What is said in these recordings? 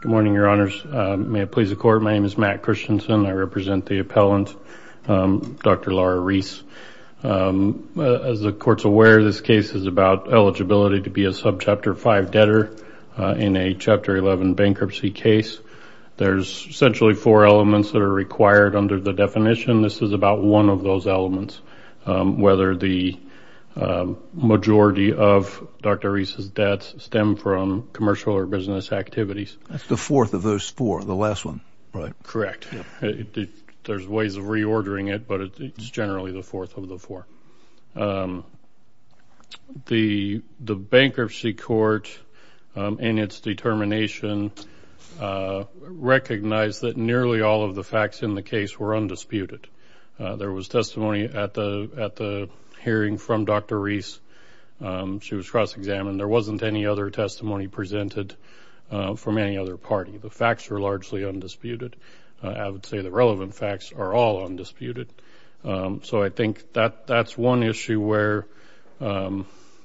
Good morning, Your Honors. May it please the Court, my name is Matt Christensen. I represent the appellant, Dr. Laura Reis. As the Court's aware, this case is about eligibility to be a Subchapter 5 debtor in a Chapter 11 bankruptcy case. There's essentially four elements that are required under the definition. This is about one of those elements, whether the majority of Dr. Reis' debts stem from commercial or business activities. That's the fourth of those four, the last one, right? Correct. There's ways of reordering it, but it's generally the fourth of the four. The bankruptcy court, in its determination, recognized that nearly all of the facts in the case were undisputed. There was testimony at the hearing from Dr. Reis. She was cross-examined. There wasn't any other testimony presented from any other party. The facts were largely undisputed. I would say the relevant facts are all undisputed. So I think that's one issue where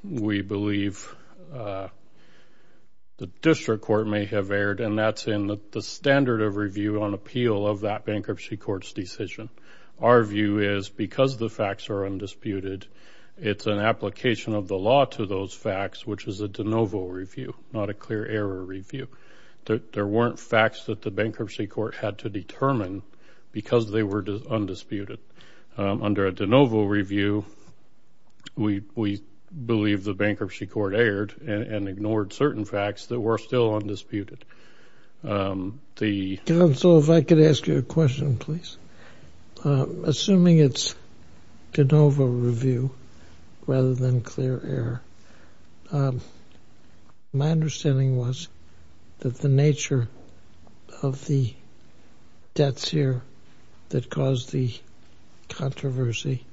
we believe the district court may have erred, and that's in the standard of review on appeal of that bankruptcy court's decision. Our view is, because the facts are undisputed, it's an application of the law to those facts, which is a de novo review, not a clear error review. There weren't facts that the bankruptcy court had to determine because they were undisputed. Under a de novo review, we believe the bankruptcy court erred and ignored certain facts that were still undisputed. The... Counsel, if I could ask you a question, please. Assuming it's de novo review rather than clear error, my understanding was that the nature of the debts here that caused the controversy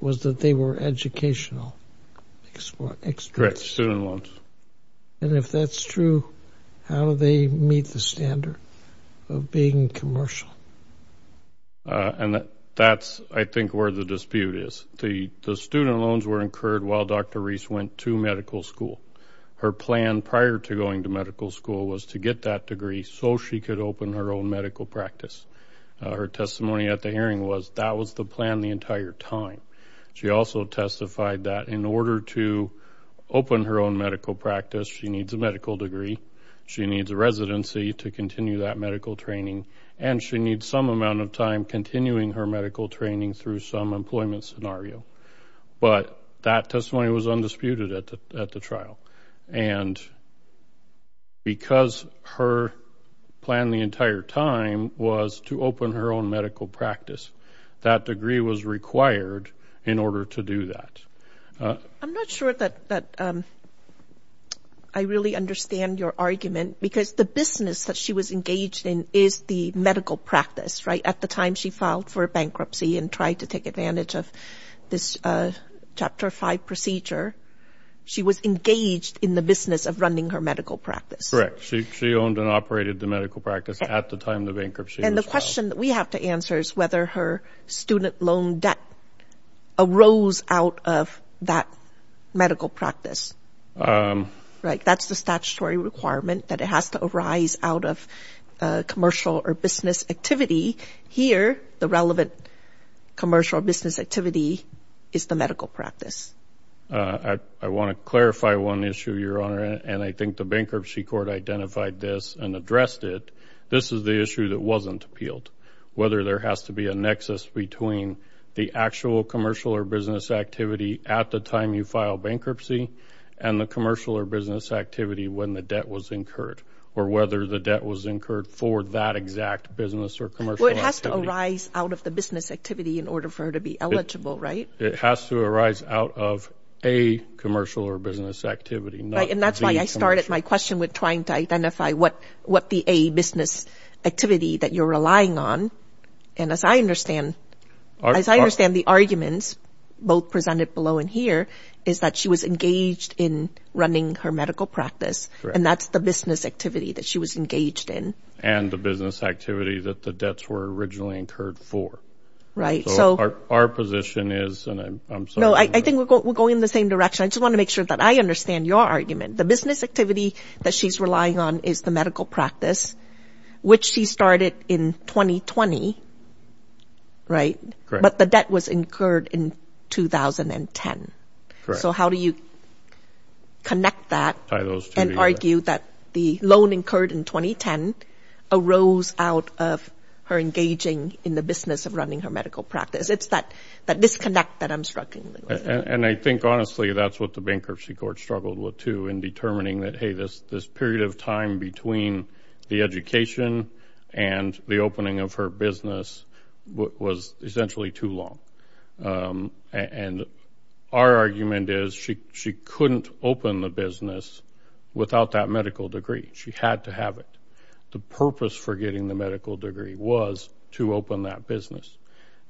was that they were educational. Correct. Student loans. And if that's true, how do they meet the standard of being commercial? And that's, I think, where the dispute is. The student loans were incurred while Dr. Reese went to medical school. Her plan prior to going to medical school was to get that degree so she could open her own medical practice. Her testimony at the hearing was that was the plan the entire time. She also testified that in order to open her own medical practice, she needs a medical degree, she needs a residency to continue that medical training, and she needs some amount of time continuing her medical training through some employment scenario. But that testimony was undisputed at the trial. And because her plan the entire time was to open her own medical practice, that degree was required in order to do that. I'm not sure that I really understand your argument because the business that she was engaged in is the medical practice, right? At the time she filed for bankruptcy and tried to take advantage of this Chapter 5 procedure, she was engaged in the business of running her medical practice. Correct. She owned and operated the medical practice at the time the bankruptcy was filed. The question that we have to answer is whether her student loan debt arose out of that medical practice. That's the statutory requirement that it has to arise out of commercial or business activity. Here, the relevant commercial or business activity is the medical practice. I want to clarify one issue, Your Honor, and I think the bankruptcy court identified this and addressed it. This is the issue that wasn't appealed, whether there has to be a nexus between the actual commercial or business activity at the time you file bankruptcy and the commercial or business activity when the debt was incurred or whether the debt was incurred for that exact business or commercial activity. Well, it has to arise out of the business activity in order for her to be eligible, right? It has to arise out of a commercial or business activity, not the commercial. That's why I started my question with trying to identify what the A, business activity that you're relying on, and as I understand the arguments both presented below and here, is that she was engaged in running her medical practice and that's the business activity that she was engaged in. And the business activity that the debts were originally incurred for. Our position is, and I'm sorry. No, I think we're going in the same direction. I just want to make sure that I understand your argument. The business activity that she's relying on is the medical practice, which she started in 2020, right? But the debt was incurred in 2010. So how do you connect that and argue that the loan incurred in 2010 arose out of her engaging in the business of running her medical practice? It's that disconnect that I'm struggling with. And I think, honestly, that's what the bankruptcy court struggled with, too, in determining that, hey, this period of time between the education and the opening of her business was essentially too long. And our argument is she couldn't open the business without that medical degree. She had to have it. The purpose for getting the medical degree was to open that business.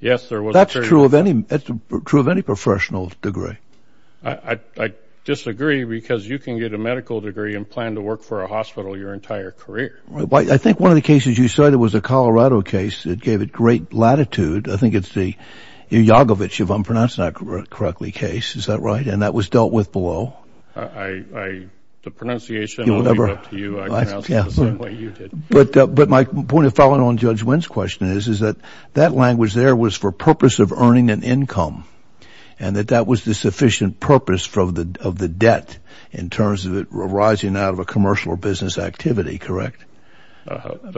Yes, there was a period of time. That's true of any professional degree. I disagree, because you can get a medical degree and plan to work for a hospital your entire career. I think one of the cases you cited was a Colorado case that gave it great latitude. I think it's the Iagovic, if I'm pronouncing that correctly, case. Is that right? And that was dealt with below. The pronunciation will be left to you. I pronounced it the same way you did. But my point of following on Judge Wynn's question is that that language there was for purpose of earning an income, and that that was the sufficient purpose of the debt in terms of it arising out of a commercial or business activity, correct?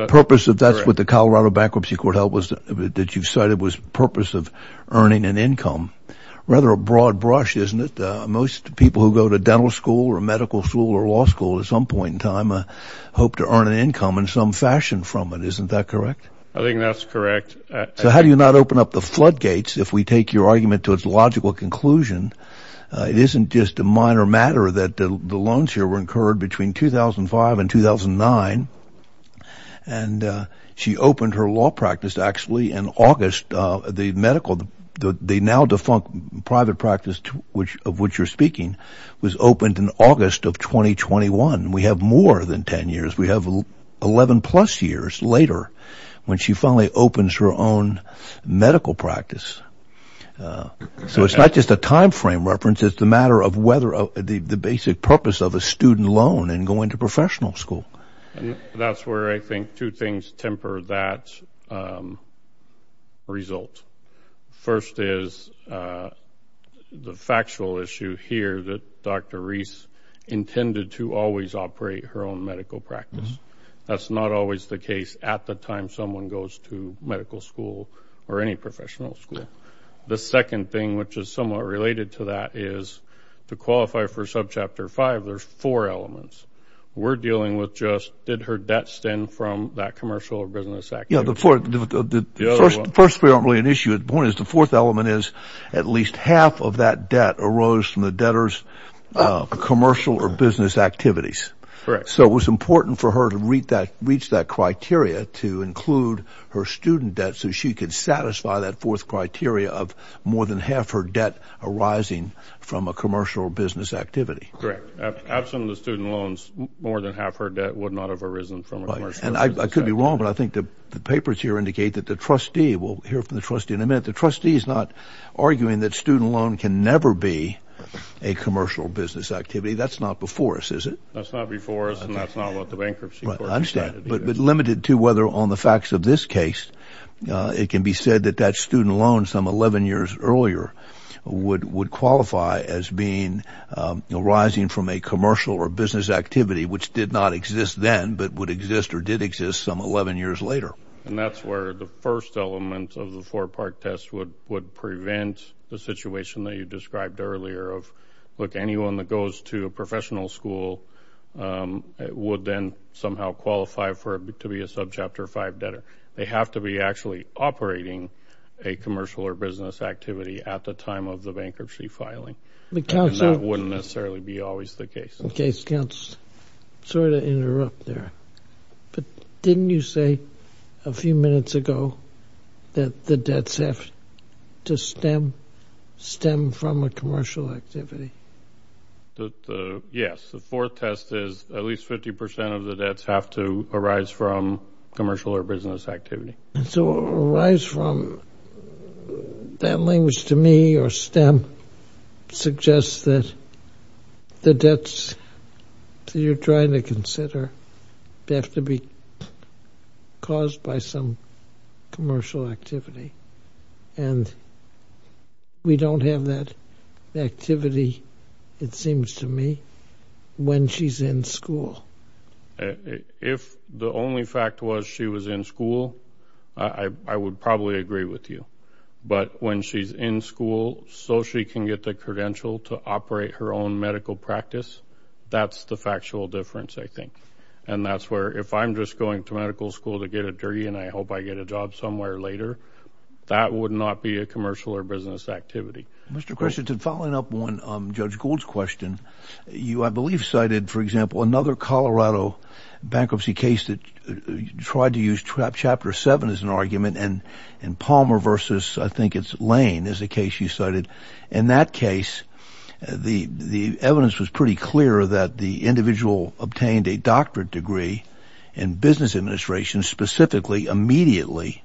Purpose of that's what the Colorado bankruptcy court held that you cited was purpose of earning an income. Rather a broad brush, isn't it? Most people who go to dental school or medical school or law school at some point in time hope to earn an income in some fashion from it. Isn't that correct? I think that's correct. So how do you not open up the floodgates if we take your argument to its logical conclusion? It isn't just a minor matter that the loans here were incurred between 2005 and 2009. And she opened her law practice actually in August. The medical, the now defunct private practice of which you're speaking was opened in August of 2021. We have more than 10 years. We have 11 plus years later when she finally opens her own medical practice. So it's not just a time frame reference, it's the matter of whether the basic purpose of a student loan in going to professional school. That's where I think two things temper that result. First is the factual issue here that Dr. Reese intended to always operate her own medical practice. That's not always the case at the time someone goes to medical school or any professional school. The second thing, which is somewhat related to that, is to qualify for subchapter five, there's four elements. We're dealing with just did her debt stem from that commercial or business activity? The first three aren't really an issue. The point is the fourth element is at least half of that debt arose from the debtor's commercial or business activities. So it was important for her to reach that criteria to include her student debt so she could satisfy that fourth criteria of more than half her debt arising from a commercial or business activity. Correct. Absent of the student loans, more than half her debt would not have arisen from a commercial or business activity. I could be wrong, but I think the papers here indicate that the trustee, we'll hear from the trustee in a minute, the trustee is not arguing that student loan can never be a commercial business activity. That's not before us, is it? That's not before us and that's not what the bankruptcy court decided. But limited to whether on the facts of this case, it can be said that that student loan some 11 years earlier would qualify as arising from a commercial or business activity which did not exist then but would exist or did exist some 11 years later. And that's where the first element of the four-part test would prevent the situation that you described earlier of, look, anyone that goes to a professional school would then somehow qualify for it to be a subchapter five debtor. They have to be actually operating a commercial or business activity at the time of the bankruptcy filing. And that wouldn't necessarily be always the case. I'm sorry to interrupt there, but didn't you say a few minutes ago that the debts have to stem from a commercial activity? Yes. The fourth test is at least 50% of the debts have to arise from commercial or business activity. So arise from, that language to me or stem suggests that the debts that you're trying to consider have to be caused by some commercial activity. And we don't have that activity, it seems to me, when she's in school. If the only fact was she was in school, I would probably agree with you. But when she's in school so she can get the credential to operate her own medical practice, that's the factual difference, I think. And that's where if I'm just going to medical school to get a degree and I hope I get a job somewhere later, that would not be a commercial or business activity. Mr. Christensen, following up on Judge Gould's question, you, I believe, cited, for example, another Colorado bankruptcy case that tried to use Chapter 7 as an argument and Palmer versus I think it's Lane is a case you cited. In that case, the evidence was pretty clear that the individual obtained a doctorate degree in business administration specifically immediately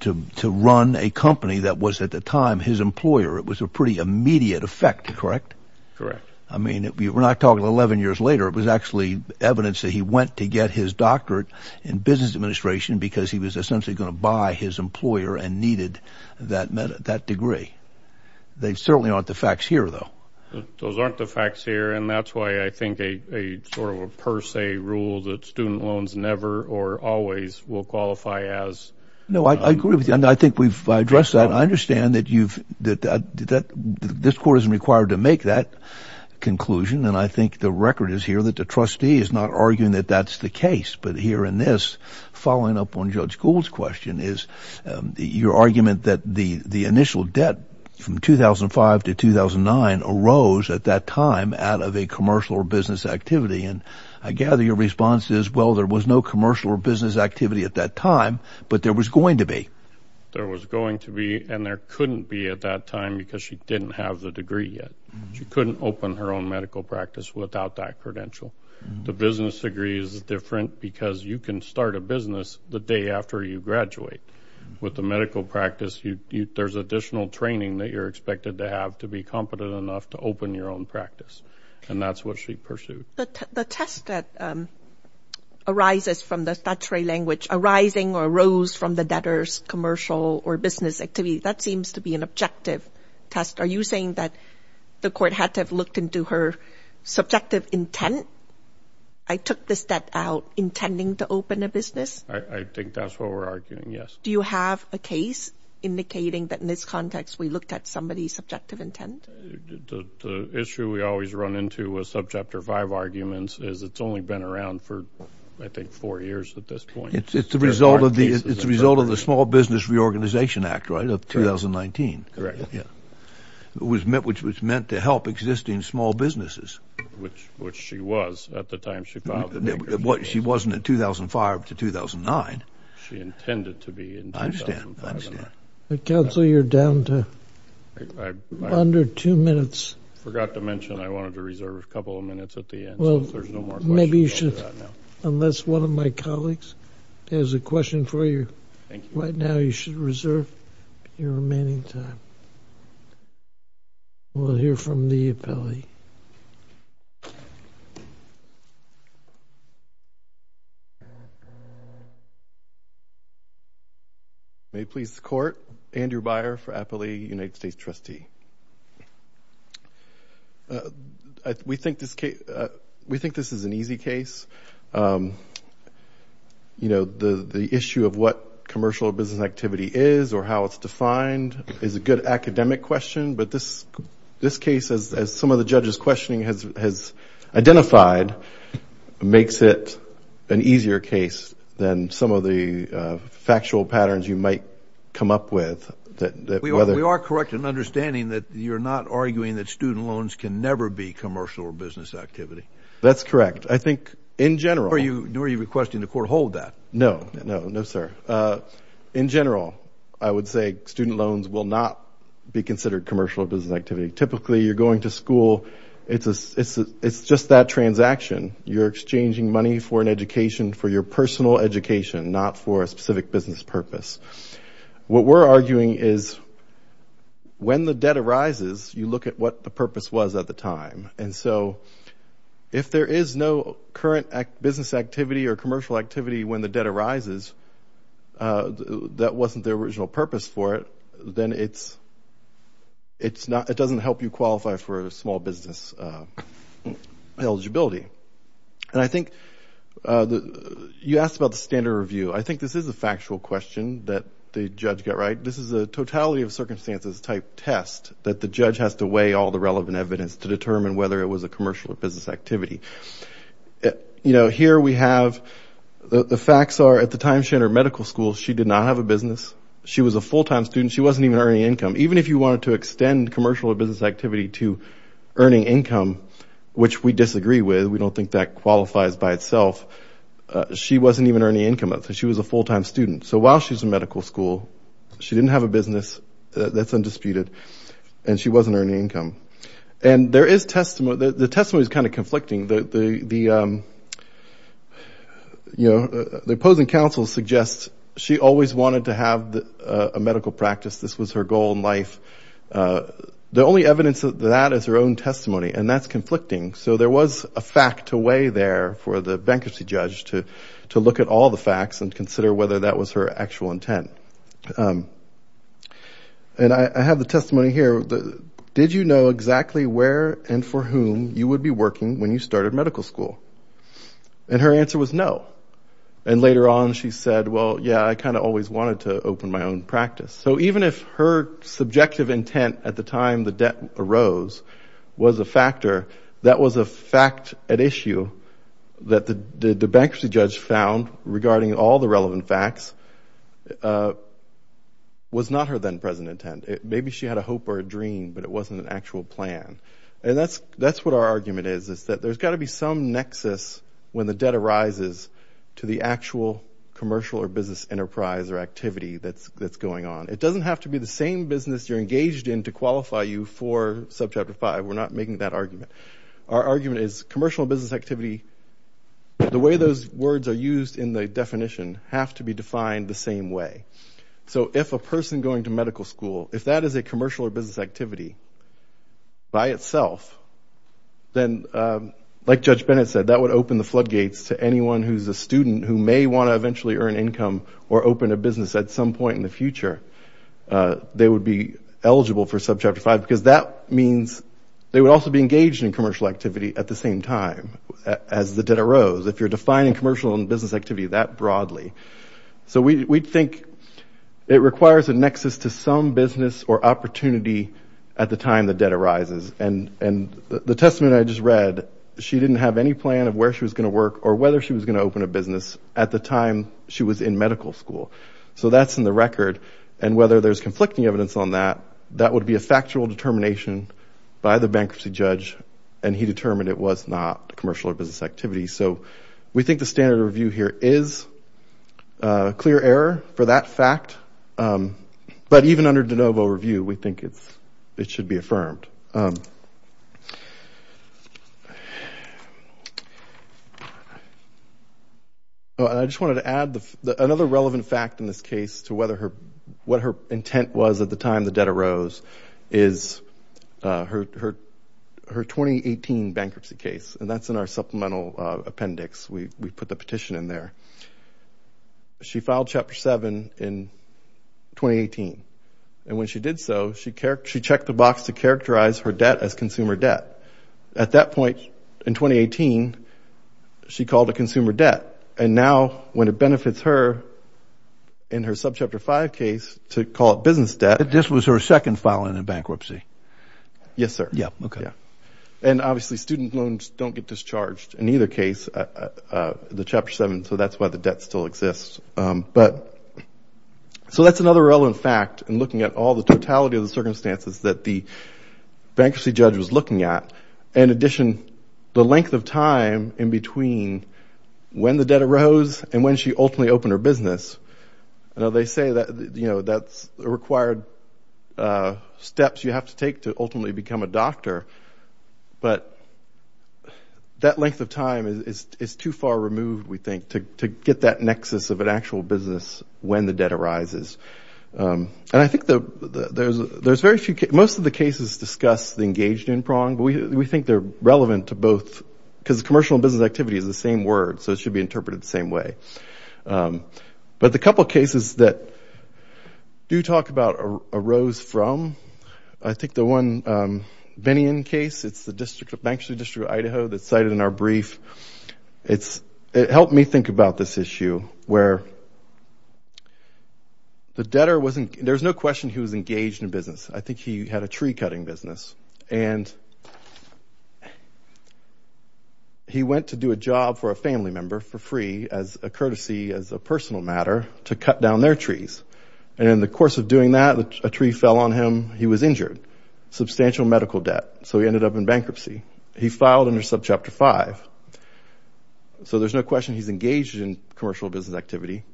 to run a company that was at the time his employer. It was a pretty immediate effect, correct? Correct. I mean, we're not talking 11 years later. It was actually evidence that he went to get his doctorate in business administration because he was essentially going to buy his employer and needed that degree. They certainly aren't the facts here, though. Those aren't the facts here. And that's why I think a sort of a per se rule that student loans never or always will qualify as. No, I agree with you. And I think we've addressed that. I understand that you've that this court isn't required to make that conclusion. And I think the record is here that the trustee is not arguing that that's the case. But here in this following up on Judge Gould's question is your argument that the initial debt from 2005 to 2009 arose at that time out of a commercial or business activity. And I gather your response is, well, there was no commercial or business activity at that time, but there was going to be. There was going to be and there couldn't be at that time because she didn't have the degree yet. She couldn't open her own medical practice without that credential. The business degree is different because you can start a business the day after you graduate with the medical practice. There's additional training that you're expected to have to be competent enough to open your own practice. And that's what she pursued. The test that arises from the statutory language arising or arose from the debtors commercial or business activity, that seems to be an objective test. Are you saying that the court had to have looked into her subjective intent? I took this debt out intending to open a business? I think that's what we're arguing, yes. Do you have a case indicating that in this context we looked at somebody's subjective intent? The issue we always run into with Subchapter 5 arguments is it's only been around for, I think, four years at this point. It's the result of the Small Business Reorganization Act, right, of 2019. Correct. Which was meant to help existing small businesses. Which she was at the time she filed. She wasn't in 2005 to 2009. She intended to be in 2005. I understand. Counsel, you're down to under two minutes. I forgot to mention I wanted to reserve a couple of minutes at the end. Well, maybe you should, unless one of my colleagues has a question for you right now, you should reserve your remaining time. We'll hear from the appellee. May it please the Court, Andrew Byer for Appellee, United States Trustee. We think this is an easy case. You know, the issue of what commercial or business activity is or how it's defined is a good academic question, but this case, as some of the judges' questioning has identified, makes it an easier case than some of the factual patterns you might come up with. We are correct in understanding that you're not arguing that student loans can never be commercial or business activity. That's correct. Nor are you requesting the Court hold that. No, no, no, sir. In general, I would say student loans will not be considered commercial or business activity. Typically, you're going to school. It's just that transaction. You're exchanging money for an education, for your personal education, not for a specific business purpose. What we're arguing is when the debt arises, you look at what the purpose was at the time. If there is no current business activity or commercial activity when the debt arises that wasn't the original purpose for it, then it doesn't help you qualify for a small business eligibility. You asked about the standard review. I think this is a factual question that the judge got right. This is a totality of circumstances type test that the judge has to weigh all the relevant evidence to determine whether it was a commercial or business activity. Here we have the facts are at the time she entered medical school, she did not have a business. She was a full-time student. She wasn't even earning income. Even if you wanted to extend commercial or business activity to earning income, which we disagree with. We don't think that qualifies by itself. She wasn't even earning income. She was a full-time student. So while she's in medical school, she didn't have a business. That's undisputed. And she wasn't earning income. And there is testimony, the testimony is kind of conflicting. The opposing counsel suggests she always wanted to have a medical practice. This was her goal in life. The only evidence of that is her own testimony, and that's conflicting. So there was a fact to weigh there for the bankruptcy judge to look at all the facts and consider whether that was her actual intent. And I have the testimony here. Did you know exactly where and for whom you would be working when you started medical school? And her answer was no. And later on she said, well, yeah, I kind of always wanted to open my own practice. So even if her subjective intent at the time the debt arose was a factor, that was a fact at issue that the bankruptcy judge found regarding all the relevant facts was not her then present intent. Maybe she had a hope or a dream, but it wasn't an actual plan. And that's what our argument is, is that there's got to be some nexus when the debt arises to the actual commercial or business enterprise or activity that's going on. It doesn't have to be the same business you're engaged in to qualify you for Subchapter 5. We're not making that argument. Our argument is commercial business activity, the way those words are used in the definition, have to be defined the same way. So if a person going to medical school, if that is a commercial or business activity by itself, then like Judge Bennett said, that would open the floodgates to anyone who's a student who may want to eventually earn income or open a business at some point in the future. They would be eligible for Subchapter 5 because that means they would also be engaged in commercial activity at the same time as the debt arose. If you're defining commercial and business activity that broadly. So we think it requires a nexus to some business or opportunity at the time the debt arises. And the testament I just read, she didn't have any plan of where she was going to work or whether she was going to open a business at the time she was in medical school. So that's in the record. And whether there's conflicting evidence on that, that would be a factual determination by the bankruptcy judge and he determined it was not commercial or business activity. So we think the standard review here is clear error for that fact. But even under de novo review, we think it should be affirmed. I just wanted to add another relevant fact in this case to what her intent was at the time the debt arose is her 2018 bankruptcy case. And that's in our supplemental appendix. We put the petition in there. She filed Chapter 7 in 2018. And when she did so, she checked the box to characterize her debt as consumer debt. At that point in 2018, she called it consumer debt. And now when it benefits her in her Subchapter 5 case to call it business debt. This was her second filing in bankruptcy. Yes, sir. Yeah, okay. And obviously student loans don't get discharged in either case, the Chapter 7. So that's why the debt still exists. So that's another relevant fact in looking at all the totality of the circumstances that the bankruptcy judge was looking at. In addition, the length of time in between when the debt arose and when she ultimately opened her business, they say that's required steps you have to take to ultimately become a doctor. But that length of time is too far removed, we think, to get that nexus of an actual business when the debt arises. And I think there's very few – most of the cases discuss the engaged in prong, but we think they're relevant to both because commercial and business activity is the same word, so it should be interpreted the same way. But the couple cases that do talk about arose from, I think, the one Bennion case. It's the Bankruptcy District of Idaho that's cited in our brief. It helped me think about this issue where the debtor wasn't – there was no question he was engaged in business. I think he had a tree-cutting business, and he went to do a job for a family member for free as a courtesy, as a personal matter, to cut down their trees. And in the course of doing that, a tree fell on him. He was injured, substantial medical debt, so he ended up in bankruptcy. He filed under Subchapter 5, so there's no question he's engaged in commercial business activity.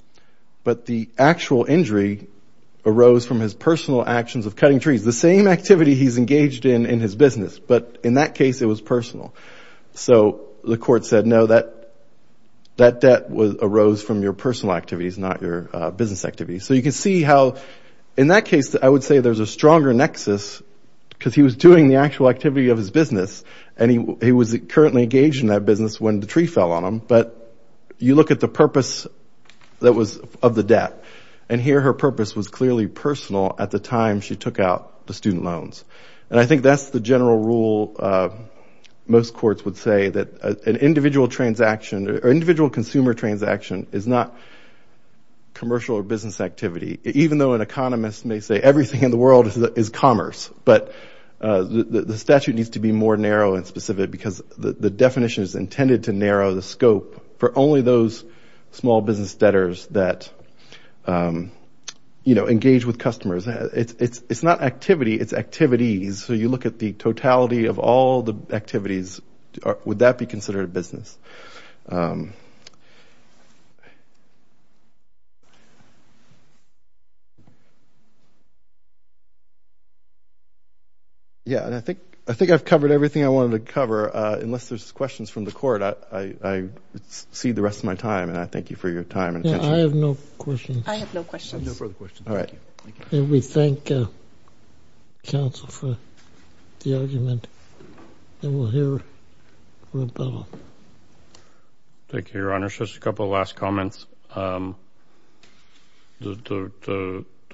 But the actual injury arose from his personal actions of cutting trees, the same activity he's engaged in in his business, but in that case it was personal. So the court said, no, that debt arose from your personal activities, not your business activities. So you can see how, in that case, I would say there's a stronger nexus because he was doing the actual activity of his business, and he was currently engaged in that business when the tree fell on him. But you look at the purpose that was of the debt, and here her purpose was clearly personal at the time she took out the student loans. And I think that's the general rule most courts would say, that an individual transaction or individual consumer transaction is not commercial or business activity, even though an economist may say everything in the world is commerce. But the statute needs to be more narrow and specific because the definition is intended to narrow the scope for only those small business debtors that engage with customers. It's not activity, it's activities. So you look at the totality of all the activities, would that be considered a business? Yeah, and I think I've covered everything I wanted to cover. Unless there's questions from the court, I cede the rest of my time, and I thank you for your time and attention. I have no questions. I have no questions. No further questions. And we thank counsel for the argument. And we'll hear from Bill. Thank you, Your Honor. Just a couple of last comments. The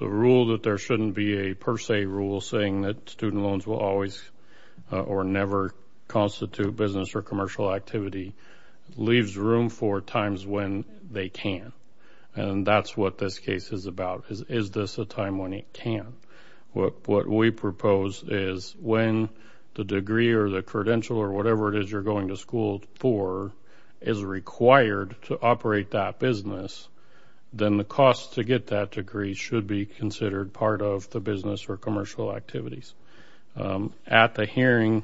rule that there shouldn't be a per se rule saying that student loans will always or never constitute business or commercial activity leaves room for times when they can. And that's what this case is about, is this a time when it can. What we propose is when the degree or the credential or whatever it is you're going to school for is required to operate that business, then the cost to get that degree should be considered part of the business or commercial activities. At the hearing,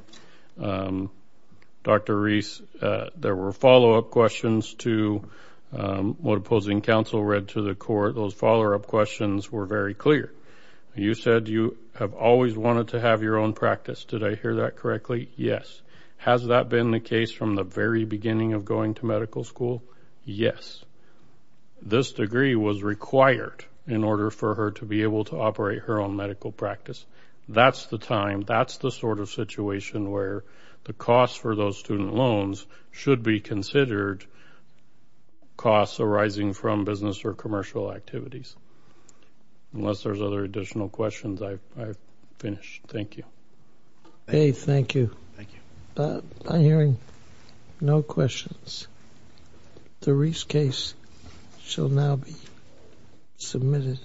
Dr. Reese, there were follow-up questions to what opposing counsel read to the court. Those follow-up questions were very clear. You said you have always wanted to have your own practice. Did I hear that correctly? Yes. Has that been the case from the very beginning of going to medical school? Yes. This degree was required in order for her to be able to operate her own medical practice. That's the time. That's the sort of situation where the cost for those student loans should be considered costs arising from business or commercial activities. Unless there's other additional questions, I've finished. Thank you. Okay, thank you. Thank you. I'm hearing no questions. The Reese case shall now be submitted.